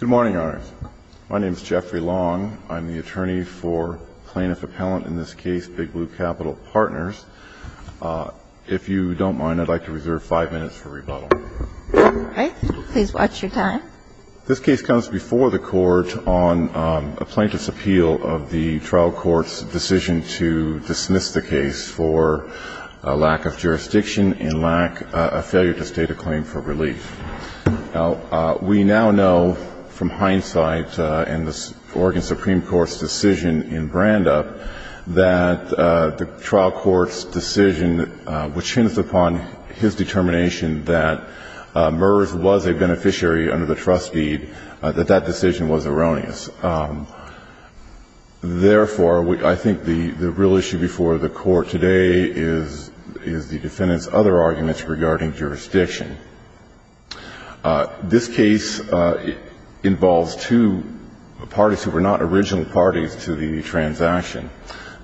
Good morning, Your Honors. My name is Jeffrey Long. I'm the attorney for plaintiff-appellant, in this case, Big Blue Capital Partners. If you don't mind, I'd like to reserve five minutes for rebuttal. All right. Please watch your time. This case comes before the Court on a plaintiff's appeal of the trial court's decision to dismiss the case for a lack of jurisdiction and a failure to state a claim for relief. Now, we now know from hindsight in the Oregon Supreme Court's decision in Brandup that the trial court's decision, which hints upon his determination that MERS was a beneficiary under the trust deed, that that decision was erroneous. Therefore, I think the real issue before the Court today is the defendant's other arguments regarding jurisdiction. This case involves two parties who were not original parties to the transaction.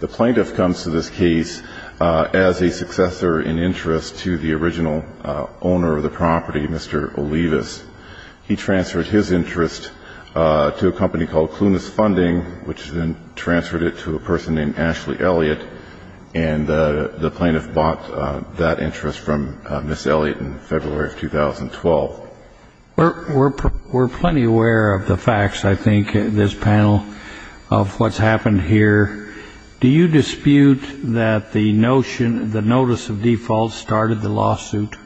The plaintiff comes to this case as a successor in interest to the original owner of the property, Mr. Olivas. He transferred his interest to a company called Clunas Funding, which then transferred it to a person named Ashley Elliott. And the plaintiff bought that interest from Ms. Elliott in February of 2012. We're plenty aware of the facts, I think, in this panel of what's happened here. Do you dispute that the notion, the notice of default started the lawsuit?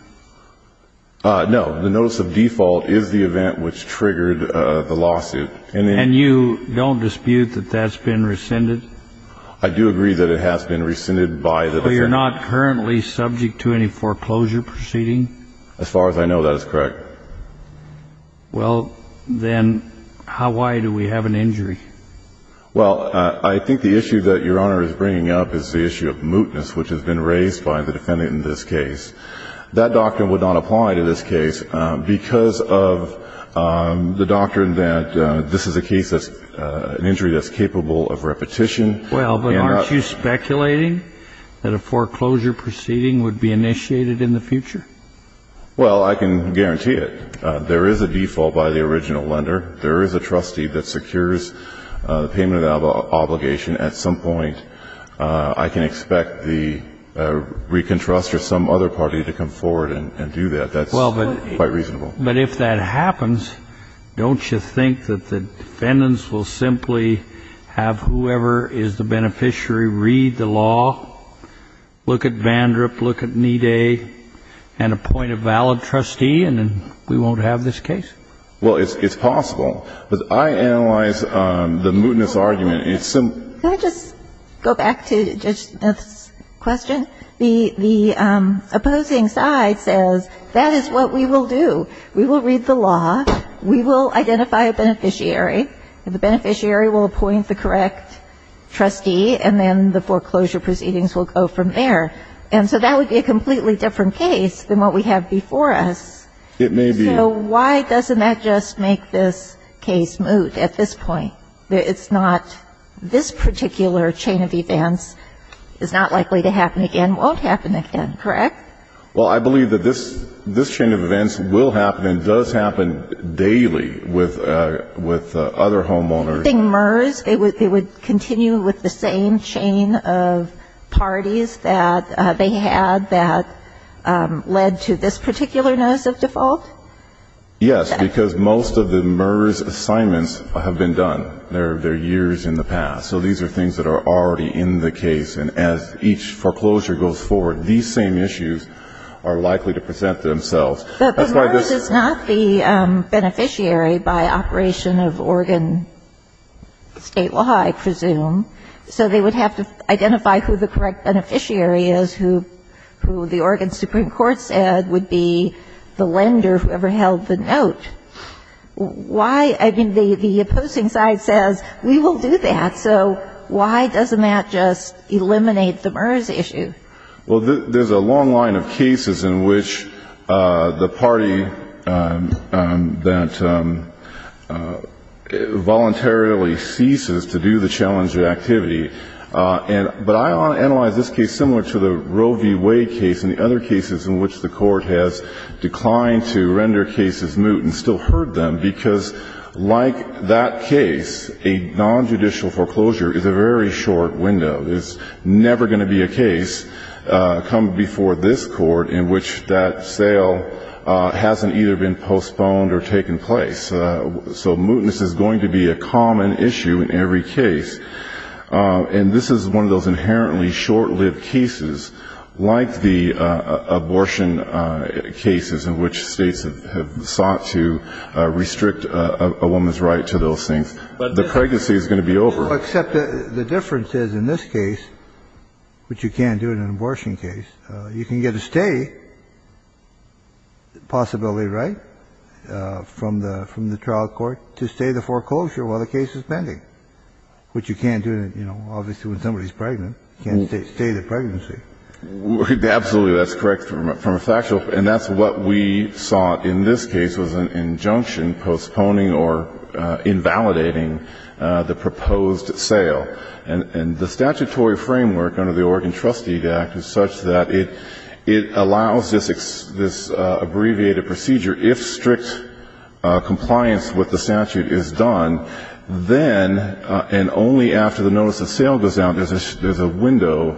No. The notice of default is the event which triggered the lawsuit. And you don't dispute that that's been rescinded? I do agree that it has been rescinded by the defendant. So you're not currently subject to any foreclosure proceeding? As far as I know, that is correct. Well, then why do we have an injury? Well, I think the issue that Your Honor is bringing up is the issue of mootness, which has been raised by the defendant in this case. That doctrine would not apply to this case because of the doctrine that this is a case that's an injury that's capable of repetition. Well, but aren't you speculating that a foreclosure proceeding would be initiated in the future? Well, I can guarantee it. There is a default by the original lender. There is a trustee that secures the payment of the obligation at some point. I can expect the ReconTrust or some other party to come forward and do that. That's quite reasonable. Well, but if that happens, don't you think that the defendants will simply have whoever is the beneficiary read the law, look at Vandrip, look at Needay, and appoint a valid trustee, and then we won't have this case? Well, it's possible. But I analyze the mootness argument. Can I just go back to Judge Smith's question? The opposing side says that is what we will do. We will read the law. We will identify a beneficiary. The beneficiary will appoint the correct trustee, and then the foreclosure proceedings will go from there. And so that would be a completely different case than what we have before us. It may be. So why doesn't that just make this case moot at this point? Well, it's not this particular chain of events is not likely to happen again, won't happen again, correct? Well, I believe that this chain of events will happen and does happen daily with other homeowners. I think MERS, it would continue with the same chain of parties that they had that led to this particular notice of default? Yes, because most of the MERS assignments have been done. They're years in the past. So these are things that are already in the case. And as each foreclosure goes forward, these same issues are likely to present themselves. But MERS is not the beneficiary by operation of Oregon State Law, I presume. So they would have to identify who the correct beneficiary is, who the Oregon Supreme Court said would be the lender who ever held the note. Why? I mean, the opposing side says, we will do that. So why doesn't that just eliminate the MERS issue? Well, there's a long line of cases in which the party that voluntarily ceases to do the challenge of activity. But I want to analyze this case similar to the Roe v. Wade case and the other cases in which the Court has declined to render cases moot and still heard them, because like that case, a nonjudicial foreclosure is a very short window. There's never going to be a case come before this Court in which that sale hasn't either been postponed or taken place. So mootness is going to be a common issue in every case. And this is one of those inherently short-lived cases like the abortion cases in which States have sought to restrict a woman's right to those things. But the pregnancy is going to be over. Well, except the difference is, in this case, which you can't do in an abortion case, you can get a stay possibility right from the trial court to stay the foreclosure while the case is pending, which you can't do, you know, obviously, when somebody's pregnant. You can't stay the pregnancy. Absolutely. That's correct from a factual. And that's what we sought in this case was an injunction postponing or invalidating the proposed sale. And the statutory framework under the Oregon Trustee Act is such that it allows this abbreviated procedure. If strict compliance with the statute is done, then, and only after the notice of sale goes out, there's a window,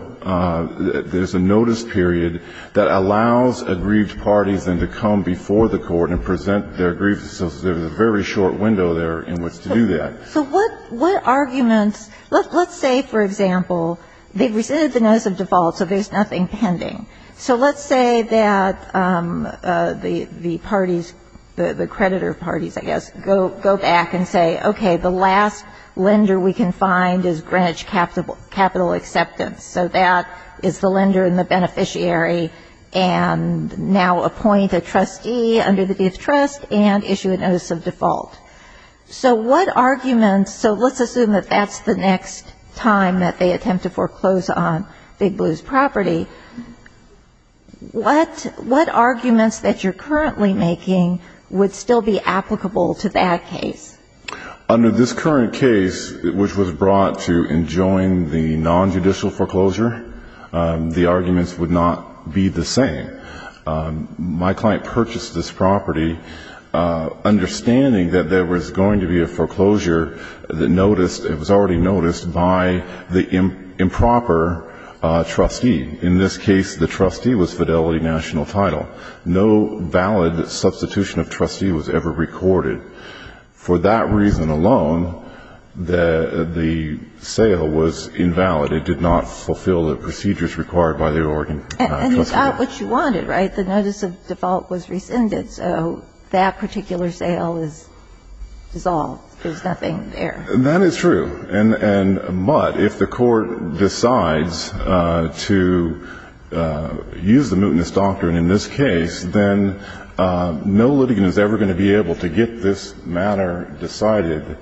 there's a notice period that allows aggrieved parties then to come before the court and present their grievances. So there's a very short window there in which to do that. So what arguments, let's say, for example, they've rescinded the notice of default, so there's nothing pending. So let's say that the parties, the creditor parties, I guess, go back and say, okay, the last lender we can find is Greenwich Capital Acceptance. So that is the lender and the beneficiary and now appoint a trustee under the gift trust and issue a notice of default. So what arguments, so let's assume that that's the next time that they attempt to foreclose on Big Blue's property. What arguments that you're currently making would still be applicable to that case? Under this current case, which was brought to enjoin the nonjudicial foreclosure, the arguments would not be the same. My client purchased this property understanding that there was going to be a foreclosure that noticed, it was already noticed by the improper trustee. In this case, the trustee was Fidelity National Title. No valid substitution of trustee was ever recorded. For that reason alone, the sale was invalid. It did not fulfill the procedures required by the Oregon trustee. And it's not what you wanted, right? The notice of default was rescinded, so that particular sale is dissolved. There's nothing there. That is true. But if the court decides to use the mootness doctrine in this case, then no litigant is ever going to be able to get this matter decided,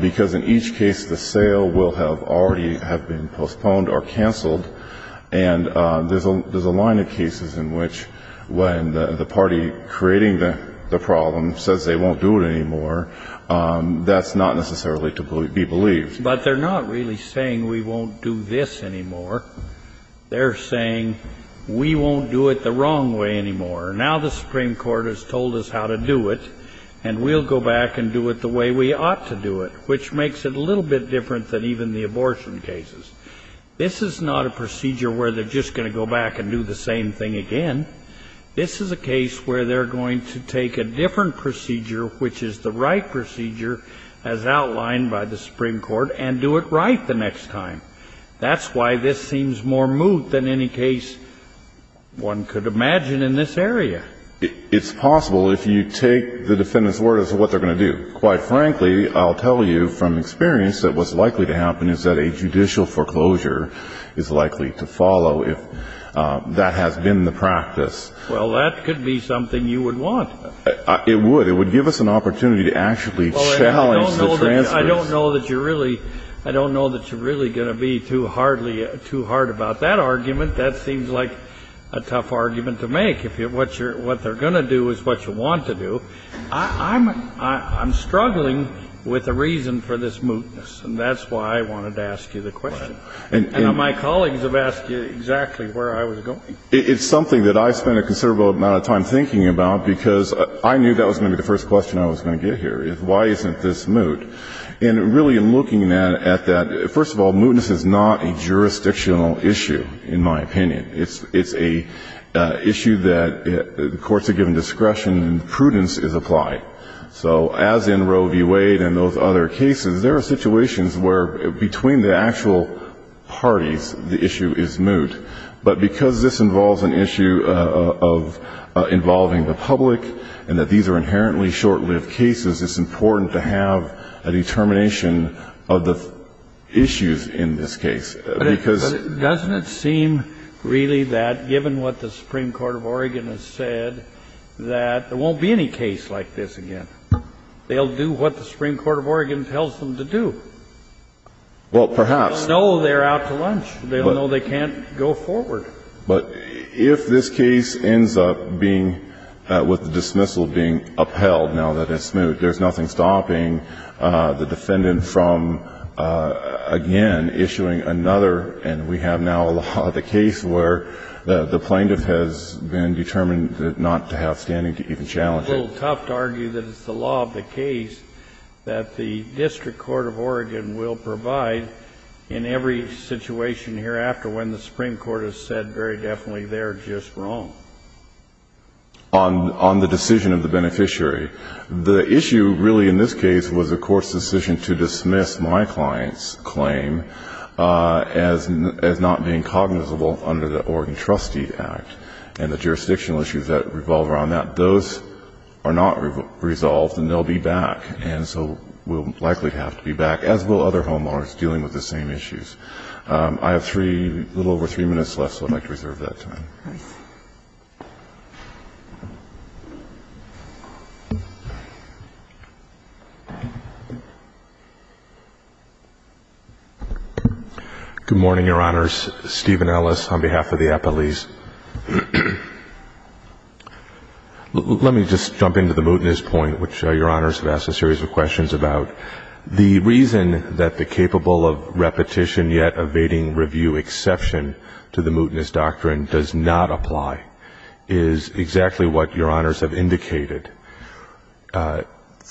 because in each case the sale will have already been postponed or canceled. And there's a line of cases in which when the party creating the problem says they won't do it anymore, that's not necessarily to be believed. But they're not really saying we won't do this anymore. They're saying we won't do it the wrong way anymore. Now the Supreme Court has told us how to do it, and we'll go back and do it the way we ought to do it, which makes it a little bit different than even the abortion cases. This is not a procedure where they're just going to go back and do the same thing again. This is a case where they're going to take a different procedure, which is the right procedure, as outlined by the Supreme Court, and do it right the next time. That's why this seems more moot than any case one could imagine in this area. It's possible if you take the defendant's word as to what they're going to do. Quite frankly, I'll tell you from experience that what's likely to happen is that a judicial foreclosure is likely to follow if that has been the practice. Well, that could be something you would want. It would. It would give us an opportunity to actually challenge the transfers. I don't know that you're really going to be too hard about that argument. That seems like a tough argument to make, if what they're going to do is what you want to do. I'm struggling with a reason for this mootness, and that's why I wanted to ask you the question. And my colleagues have asked you exactly where I was going. It's something that I spent a considerable amount of time thinking about, because I knew that was going to be the first question I was going to get here, is why isn't this moot? And really, I'm looking at that. First of all, mootness is not a jurisdictional issue, in my opinion. It's an issue that the courts are given discretion and prudence is applied. So as in Roe v. Wade and those other cases, there are situations where between the actual parties the issue is moot. But because this involves an issue of involving the public and that these are inherently short-lived cases, it's important to have a determination of the issues in this case. But doesn't it seem really that, given what the Supreme Court of Oregon has said, that there won't be any case like this again? They'll do what the Supreme Court of Oregon tells them to do. Well, perhaps. They'll know they're out to lunch. They'll know they can't go forward. But if this case ends up being, with the dismissal being upheld, now that it's moot, there's nothing stopping the defendant from, again, issuing another. And we have now the case where the plaintiff has been determined not to have standing to even challenge it. It's a little tough to argue that it's the law of the case that the district court of Oregon will provide in every situation hereafter when the Supreme Court has said very definitely they're just wrong. On the decision of the beneficiary. The issue really in this case was the court's decision to dismiss my client's claim as not being cognizable under the Oregon Trustee Act. And the jurisdictional issues that revolve around that, those are not resolved and they'll be back. And so we'll likely have to be back, as will other homeowners dealing with the same issues. I have three, a little over three minutes left, so I'd like to reserve that time. All right. Good morning, Your Honors. Stephen Ellis on behalf of the appellees. Let me just jump into the mootness point, which Your Honors have asked a series of questions about. The reason that the capable of repetition yet evading review exception to the mootness doctrine does not apply is exactly what Your Honors have indicated. The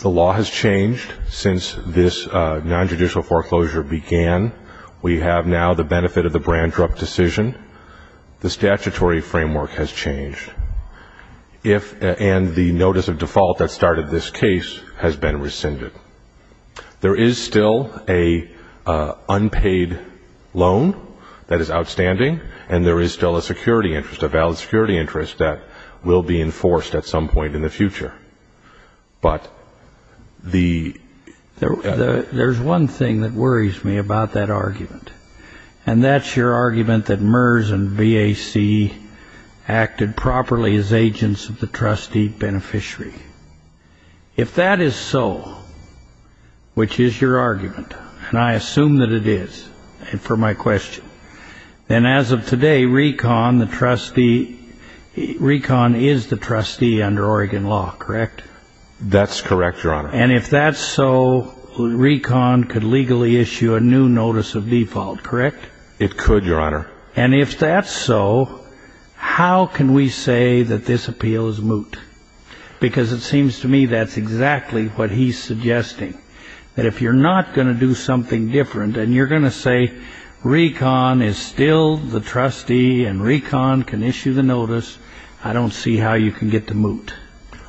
law has changed since this nonjudicial foreclosure began. We have now the benefit of the Brandrup decision. The statutory framework has changed. And the notice of default that started this case has been rescinded. There is still an unpaid loan that is outstanding. And there is still a security interest, a valid security interest that will be enforced at some point in the future. There's one thing that worries me about that argument. And that's your argument that MERS and VAC acted properly as agents of the trustee beneficiary. If that is so, which is your argument, and I assume that it is for my question, then as of today, Recon, the trustee, Recon is the trustee under Oregon law, correct? That's correct, Your Honor. And if that's so, Recon could legally issue a new notice of default, correct? It could, Your Honor. And if that's so, how can we say that this appeal is moot? Because it seems to me that's exactly what he's suggesting. That if you're not going to do something different and you're going to say Recon is still the trustee and Recon can issue the notice, I don't see how you can get the moot.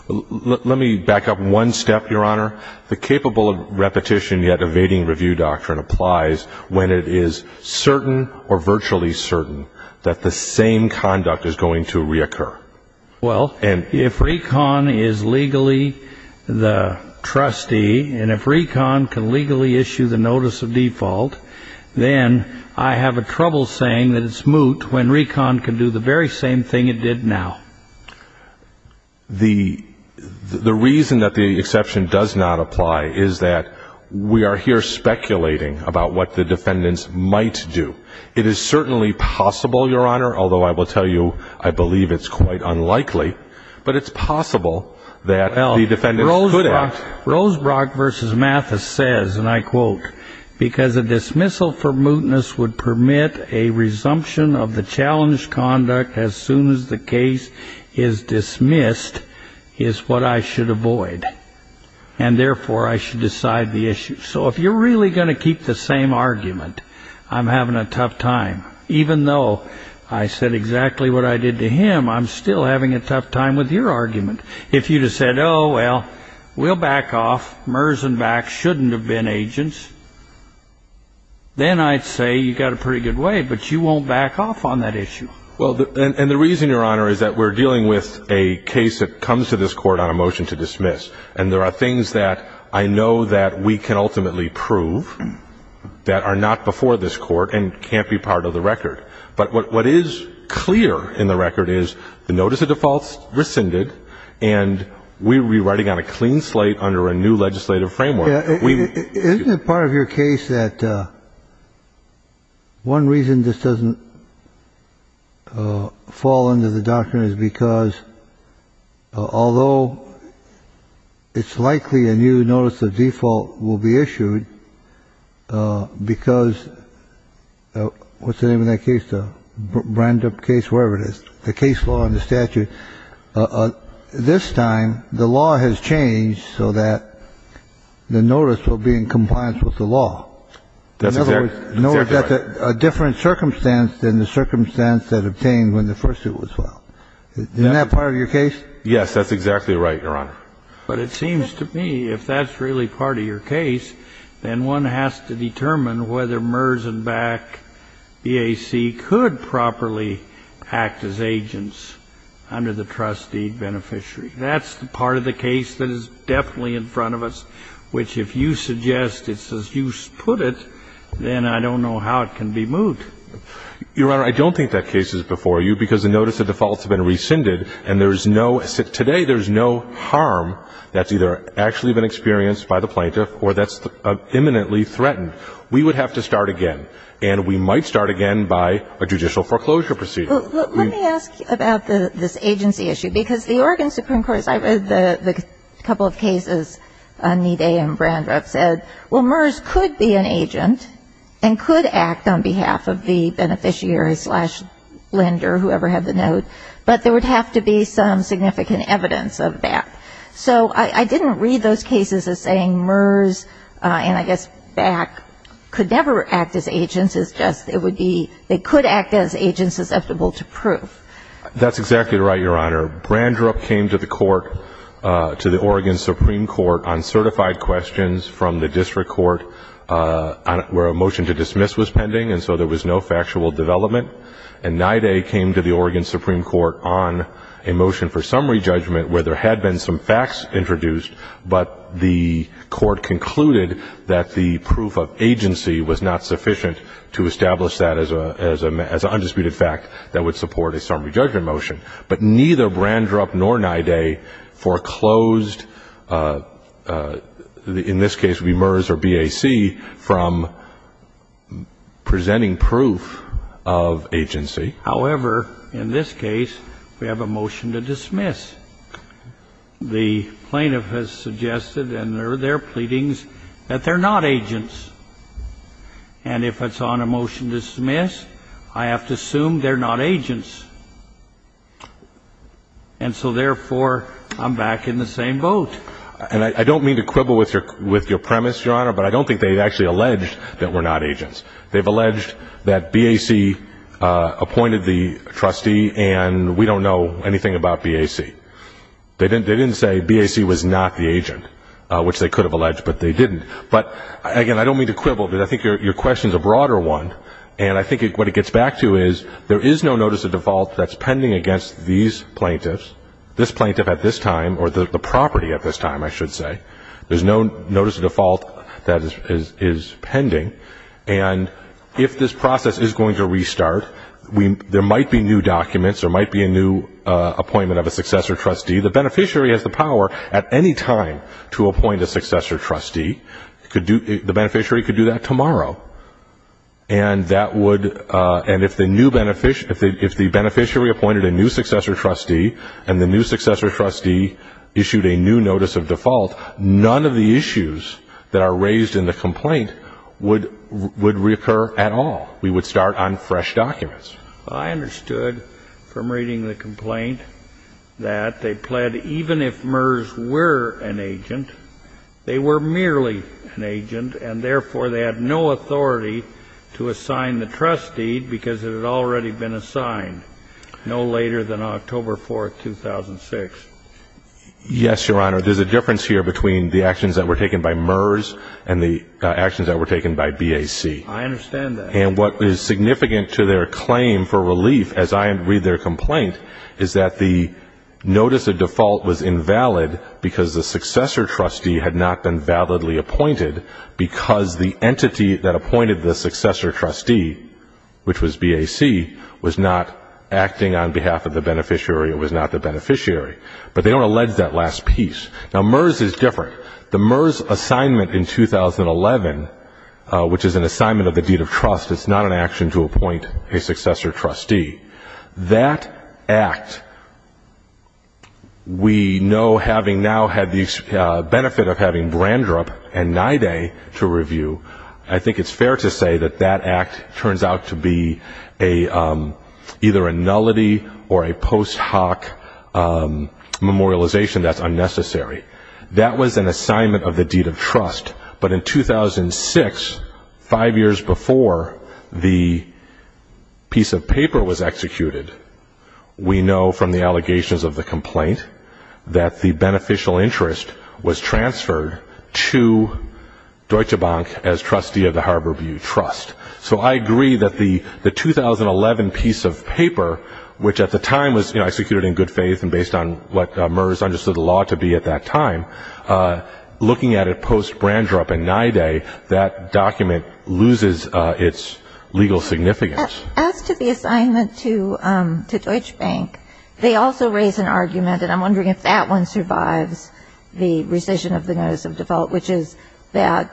Let me back up one step, Your Honor. The capable repetition yet evading review doctrine applies when it is certain or virtually certain that the same conduct is going to reoccur. Well, if Recon is legally the trustee and if Recon can legally issue the notice of default, then I have a trouble saying that it's moot when Recon can do the very same thing it did now. The reason that the exception does not apply is that we are here speculating about what the defendants might do. It is certainly possible, Your Honor, although I will tell you I believe it's quite unlikely, but it's possible that the defendants could act. Rosebrock v. Mathis says, and I quote, Because a dismissal for mootness would permit a resumption of the challenged conduct as soon as the case is dismissed is what I should avoid, and therefore I should decide the issue. So if you're really going to keep the same argument, I'm having a tough time. Even though I said exactly what I did to him, I'm still having a tough time with your argument. If you'd have said, oh, well, we'll back off. MERS and VAC shouldn't have been agents, then I'd say you've got a pretty good way. But you won't back off on that issue. Well, and the reason, Your Honor, is that we're dealing with a case that comes to this Court on a motion to dismiss. And there are things that I know that we can ultimately prove that are not before this Court and can't be part of the record. But what is clear in the record is the notice of defaults rescinded, and we will be writing on a clean slate under a new legislative framework. Isn't it part of your case that one reason this doesn't fall under the doctrine is because although it's likely a new notice of default will be issued, because what's the name of that case, the Brandup case, wherever it is, the case law and the statute, this time the law has changed so that the notice will be in compliance with the law. That's exactly right. In other words, a different circumstance than the circumstance that obtained when the first suit was filed. Isn't that part of your case? Yes, that's exactly right, Your Honor. But it seems to me if that's really part of your case, then one has to determine whether MERS and BAC, EAC, could properly act as agents under the trustee beneficiary. That's the part of the case that is definitely in front of us, which if you suggest it's as you put it, then I don't know how it can be moved. Your Honor, I don't think that case is before you because the notice of defaults has been rescinded, and today there's no harm that's either actually been experienced by the plaintiff or that's imminently threatened. We would have to start again, and we might start again by a judicial foreclosure procedure. Let me ask you about this agency issue, because the Oregon Supreme Court, as I read the couple of cases on Knee Day and Brandup, said, well, MERS could be an agent and could act on behalf of the beneficiary slash lender, whoever had the note, but there would have to be some significant evidence of that. So I didn't read those cases as saying MERS and I guess BAC could never act as agents. It's just it would be they could act as agents susceptible to proof. That's exactly right, Your Honor. Brandrup came to the court, to the Oregon Supreme Court, on certified questions from the district court where a motion to dismiss was pending and so there was no factual development. And Knee Day came to the Oregon Supreme Court on a motion for summary judgment where there had been some facts introduced, but the court concluded that the proof of agency was not sufficient to establish that as an undisputed fact that would support a summary judgment motion. But neither Brandrup nor Knee Day foreclosed, in this case it would be MERS or BAC, from presenting proof of agency. However, in this case, we have a motion to dismiss. The plaintiff has suggested in their pleadings that they're not agents. And if it's on a motion to dismiss, I have to assume they're not agents. And so, therefore, I'm back in the same boat. And I don't mean to quibble with your premise, Your Honor, but I don't think they've actually alleged that we're not agents. They've alleged that BAC appointed the trustee and we don't know anything about BAC. They didn't say BAC was not the agent, which they could have alleged, but they didn't. But, again, I don't mean to quibble, but I think your question is a broader one. And I think what it gets back to is there is no notice of default that's pending against these plaintiffs, this plaintiff at this time, or the property at this time, I should say. There's no notice of default that is pending. And if this process is going to restart, there might be new documents, there might be a new appointment of a successor trustee. The beneficiary has the power at any time to appoint a successor trustee. The beneficiary could do that tomorrow. And if the beneficiary appointed a new successor trustee and the new successor trustee issued a new notice of default, none of the issues that are raised in the complaint would reoccur at all. We would start on fresh documents. Well, I understood from reading the complaint that they pled, even if MERS were an agent, they were merely an agent and, therefore, they had no authority to assign the trustee because it had already been assigned no later than October 4, 2006. Yes, Your Honor. There's a difference here between the actions that were taken by MERS and the actions that were taken by BAC. I understand that. And what is significant to their claim for relief, as I read their complaint, is that the notice of default was invalid because the successor trustee had not been validly appointed because the entity that appointed the successor trustee, which was BAC, was not acting on behalf of the beneficiary or was not the beneficiary. But they don't allege that last piece. Now, MERS is different. The MERS assignment in 2011, which is an assignment of the deed of trust, is not an action to appoint a successor trustee. That act, we know having now had the benefit of having Brandrup and NIDA to review, I think it's fair to say that that act turns out to be either a nullity or a post hoc memorialization that's unnecessary. That was an assignment of the deed of trust. But in 2006, five years before the piece of paper was executed, we know from the allegations of the complaint that the beneficial interest was transferred to Deutsche Bank as trustee of the Harborview Trust. So I agree that the 2011 piece of paper, which at the time was executed in good faith and based on what MERS understood the law to be at that time, looking at it post-Brandrup and NIDA, that document loses its legal significance. As to the assignment to Deutsche Bank, they also raise an argument, and I'm wondering if that one survives the rescission of the notice of default, which is that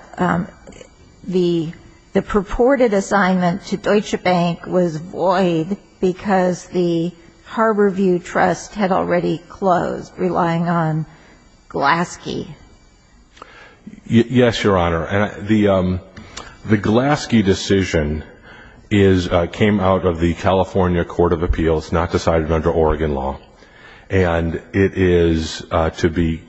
the purported assignment to Deutsche Bank was void because the Harborview Trust had already closed, relying on Glaske. Yes, Your Honor. The Glaske decision came out of the California Court of Appeals, not decided under Oregon law. And it is, to be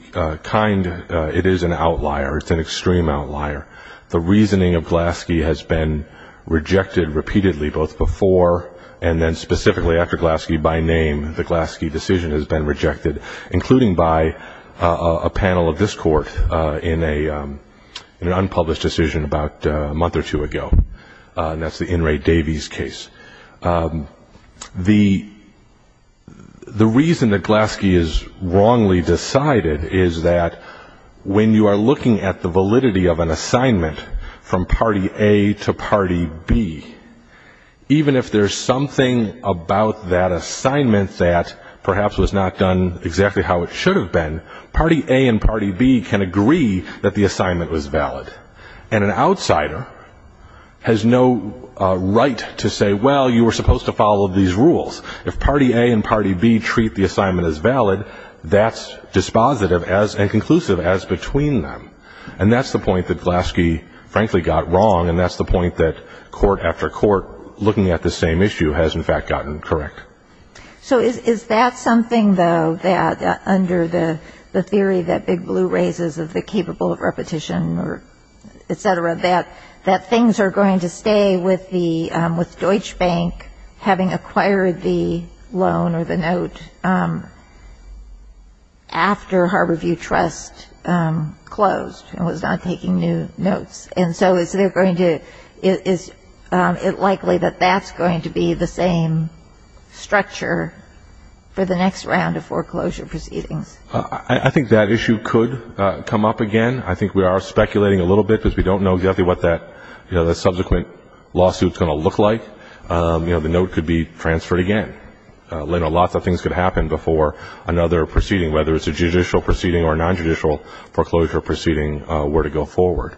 kind, it is an outlier. It's an extreme outlier. The reasoning of Glaske has been rejected repeatedly both before and then specifically after Glaske by name, the Glaske decision has been rejected, including by a panel of this Court in an unpublished decision about a month or two ago. That's the In re Davies case. The reason that Glaske is wrongly decided is that when you are looking at the validity of an assignment from party A to party B, even if there's something about that assignment that perhaps was not done exactly how it should have been, party A and party B can agree that the assignment was valid. And an outsider has no right to say, well, you were supposed to follow these rules. If party A and party B treat the assignment as valid, that's dispositive and conclusive as between them. And that's the point that Glaske, frankly, got wrong. And that's the point that court after court, looking at the same issue, has in fact gotten correct. So is that something, though, that under the theory that Big Blue raises of the capable of repetition or et cetera, that things are going to stay with Deutsche Bank having acquired the loan or the note after Harborview Trust closed and was not taking new notes? And so is it likely that that's going to be the same structure for the next round of foreclosure proceedings? I think that issue could come up again. I think we are speculating a little bit because we don't know exactly what that subsequent lawsuit is going to look like. The note could be transferred again. A lot of things could happen before another proceeding, whether it's a judicial proceeding or a nonjudicial foreclosure proceeding, were to go forward.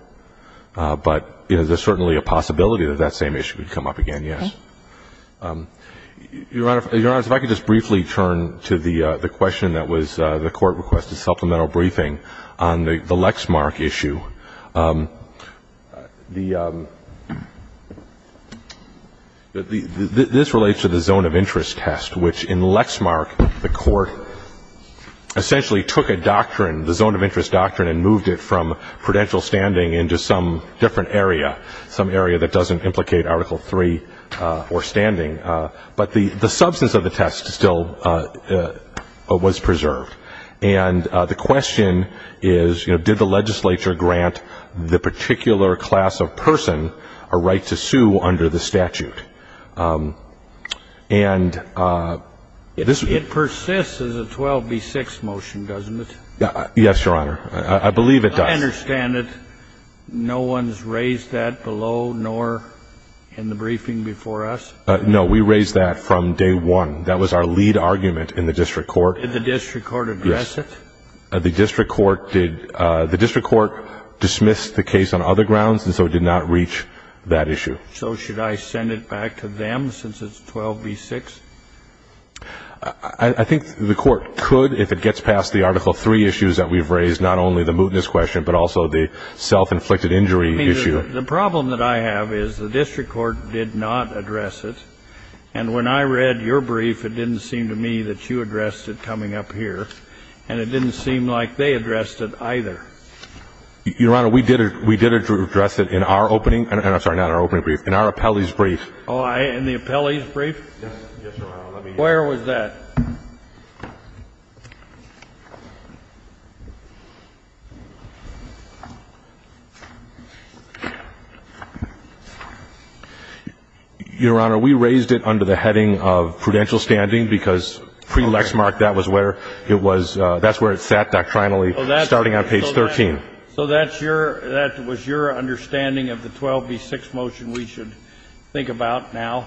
But there's certainly a possibility that that same issue could come up again, yes. Your Honor, if I could just briefly turn to the question that was the court requested, the supplemental briefing on the Lexmark issue. This relates to the zone of interest test, which in Lexmark the court essentially took a doctrine, the zone of interest doctrine, and moved it from prudential standing into some different area, some area that doesn't implicate Article III or standing. But the substance of the test still was preserved. And the question is, you know, did the legislature grant the particular class of person a right to sue under the statute? And this is the 12B6 motion, doesn't it? Yes, Your Honor. I believe it does. I understand it. No one's raised that below nor in the briefing before us? No, we raised that from day one. That was our lead argument in the district court. Did the district court address it? Yes. The district court did. The district court dismissed the case on other grounds and so did not reach that issue. So should I send it back to them since it's 12B6? I think the court could if it gets past the Article III issues that we've raised, not only the mootness question, but also the self-inflicted injury issue. I mean, the problem that I have is the district court did not address it. And when I read your brief, it didn't seem to me that you addressed it coming up here, and it didn't seem like they addressed it either. Your Honor, we did address it in our opening – I'm sorry, not our opening brief, in our appellee's brief. Oh, in the appellee's brief? Yes, Your Honor. Where was that? Your Honor, we raised it under the heading of prudential standing because pre-lexmark, that's where it sat doctrinally starting on page 13. So that was your understanding of the 12B6 motion we should think about now?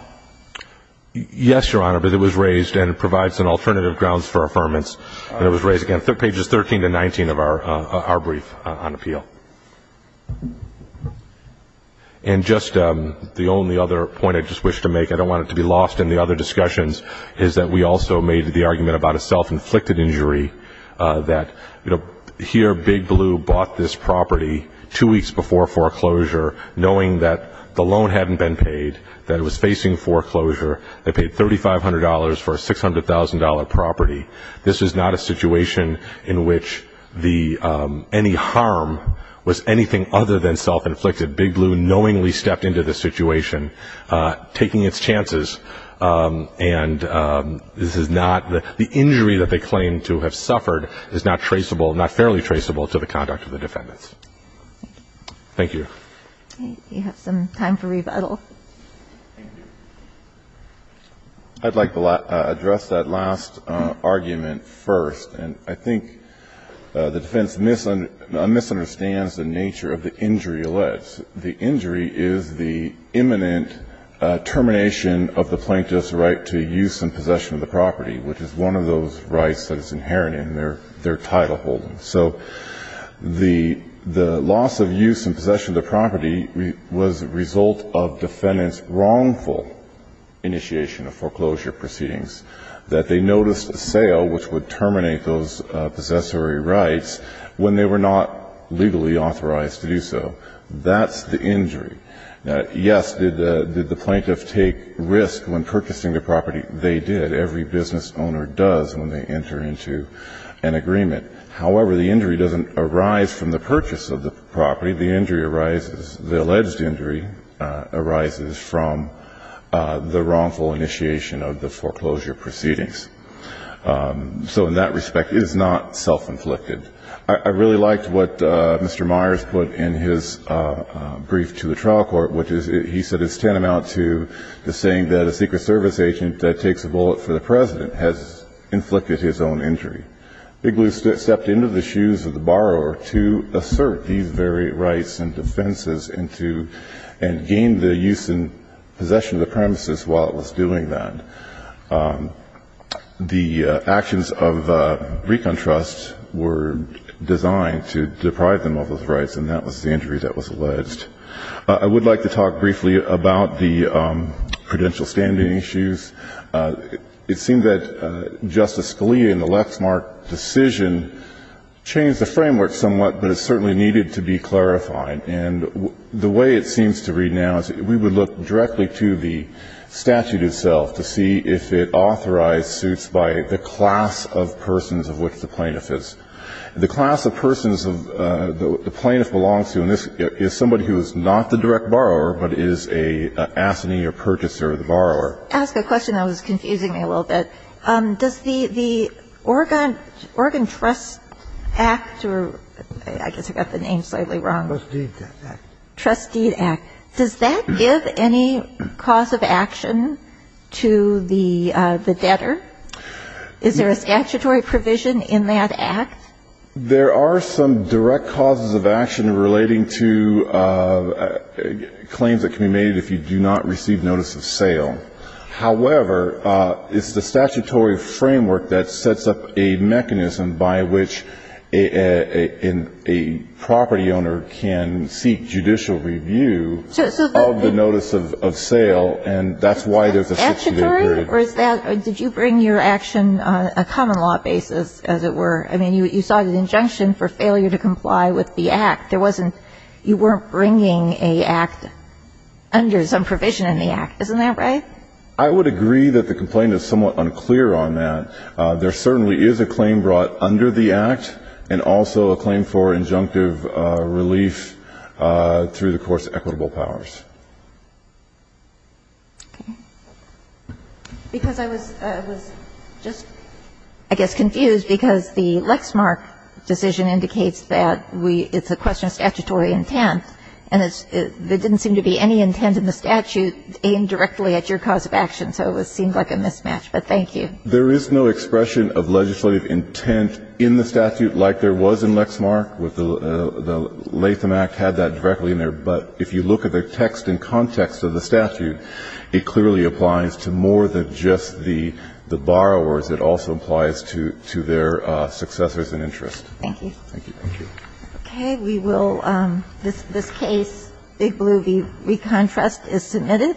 Yes, Your Honor, but it was raised, and it provides an alternative grounds for affirmance. And it was raised, again, pages 13 to 19 of our brief on appeal. And just the only other point I just wish to make, I don't want it to be lost in the other discussions, is that we also made the argument about a self-inflicted injury, that here Big Blue bought this property two weeks before foreclosure, knowing that the loan hadn't been paid, that it was facing foreclosure. They paid $3,500 for a $600,000 property. This is not a situation in which any harm was anything other than self-inflicted. Big Blue knowingly stepped into this situation, taking its chances. And this is not – the injury that they claim to have suffered is not traceable, not fairly traceable to the conduct of the defendants. Thank you. We have some time for rebuttal. I'd like to address that last argument first. And I think the defense misunderstands the nature of the injury alleged. The injury is the imminent termination of the plaintiff's right to use and possession of the property, which is one of those rights that is inherent in their title holding. So the loss of use and possession of the property was a result of defendants' wrongful initiation of foreclosure proceedings, that they noticed a sale which would terminate those possessory rights when they were not legally authorized to do so. That's the injury. Yes, did the plaintiff take risk when purchasing the property? They did. Every business owner does when they enter into an agreement. However, the injury doesn't arise from the purchase of the property. The injury arises – the alleged injury arises from the wrongful initiation of the foreclosure proceedings. So in that respect, it is not self-inflicted. I really liked what Mr. Myers put in his brief to the trial court, which is – he said it's tantamount to the saying that a Secret Service agent that takes a bullet for the President has inflicted his own injury. Bigelow stepped into the shoes of the borrower to assert these very rights and defenses and to – and gain the use and possession of the premises while it was doing that. The actions of Recon Trust were designed to deprive them of those rights, and that was the injury that was alleged. I would like to talk briefly about the credential standing issues. It seems that Justice Scalia in the Lexmark decision changed the framework somewhat, but it certainly needed to be clarified. And the way it seems to read now is we would look directly to the statute itself to see if it authorized suits by the class of persons of which the plaintiff is. The class of persons the plaintiff belongs to in this is somebody who is not the direct borrower, but is an assignee or purchaser of the borrower. I'm going to ask a question that was confusing me a little bit. Does the Oregon Trust Act, or I guess I got the name slightly wrong. Trust Deed Act. Trust Deed Act. Does that give any cause of action to the debtor? Is there a statutory provision in that act? There are some direct causes of action relating to claims that can be made if you do not receive notice of sale. However, it's the statutory framework that sets up a mechanism by which a property owner can seek judicial review of the notice of sale, and that's why there's a statutory provision. Is that statutory, or did you bring your action on a common law basis, as it were? I mean, you saw the injunction for failure to comply with the act. There wasn't, you weren't bringing an act under some provision in the act. Isn't that right? I would agree that the complaint is somewhat unclear on that. There certainly is a claim brought under the act, and also a claim for injunctive relief through the court's equitable powers. Okay. Because I was just, I guess, confused, because the Lexmark decision indicates that we, it's a question of statutory intent, and there didn't seem to be any intent in the statute aimed directly at your cause of action. So it seemed like a mismatch. But thank you. There is no expression of legislative intent in the statute like there was in Lexmark. The Latham Act had that directly in there. But if you look at the text and context of the statute, it clearly applies to more than just the borrowers. It also applies to their successors in interest. Thank you. Thank you. Okay. We will, this case, Big Blue v. ReconTrust is submitted.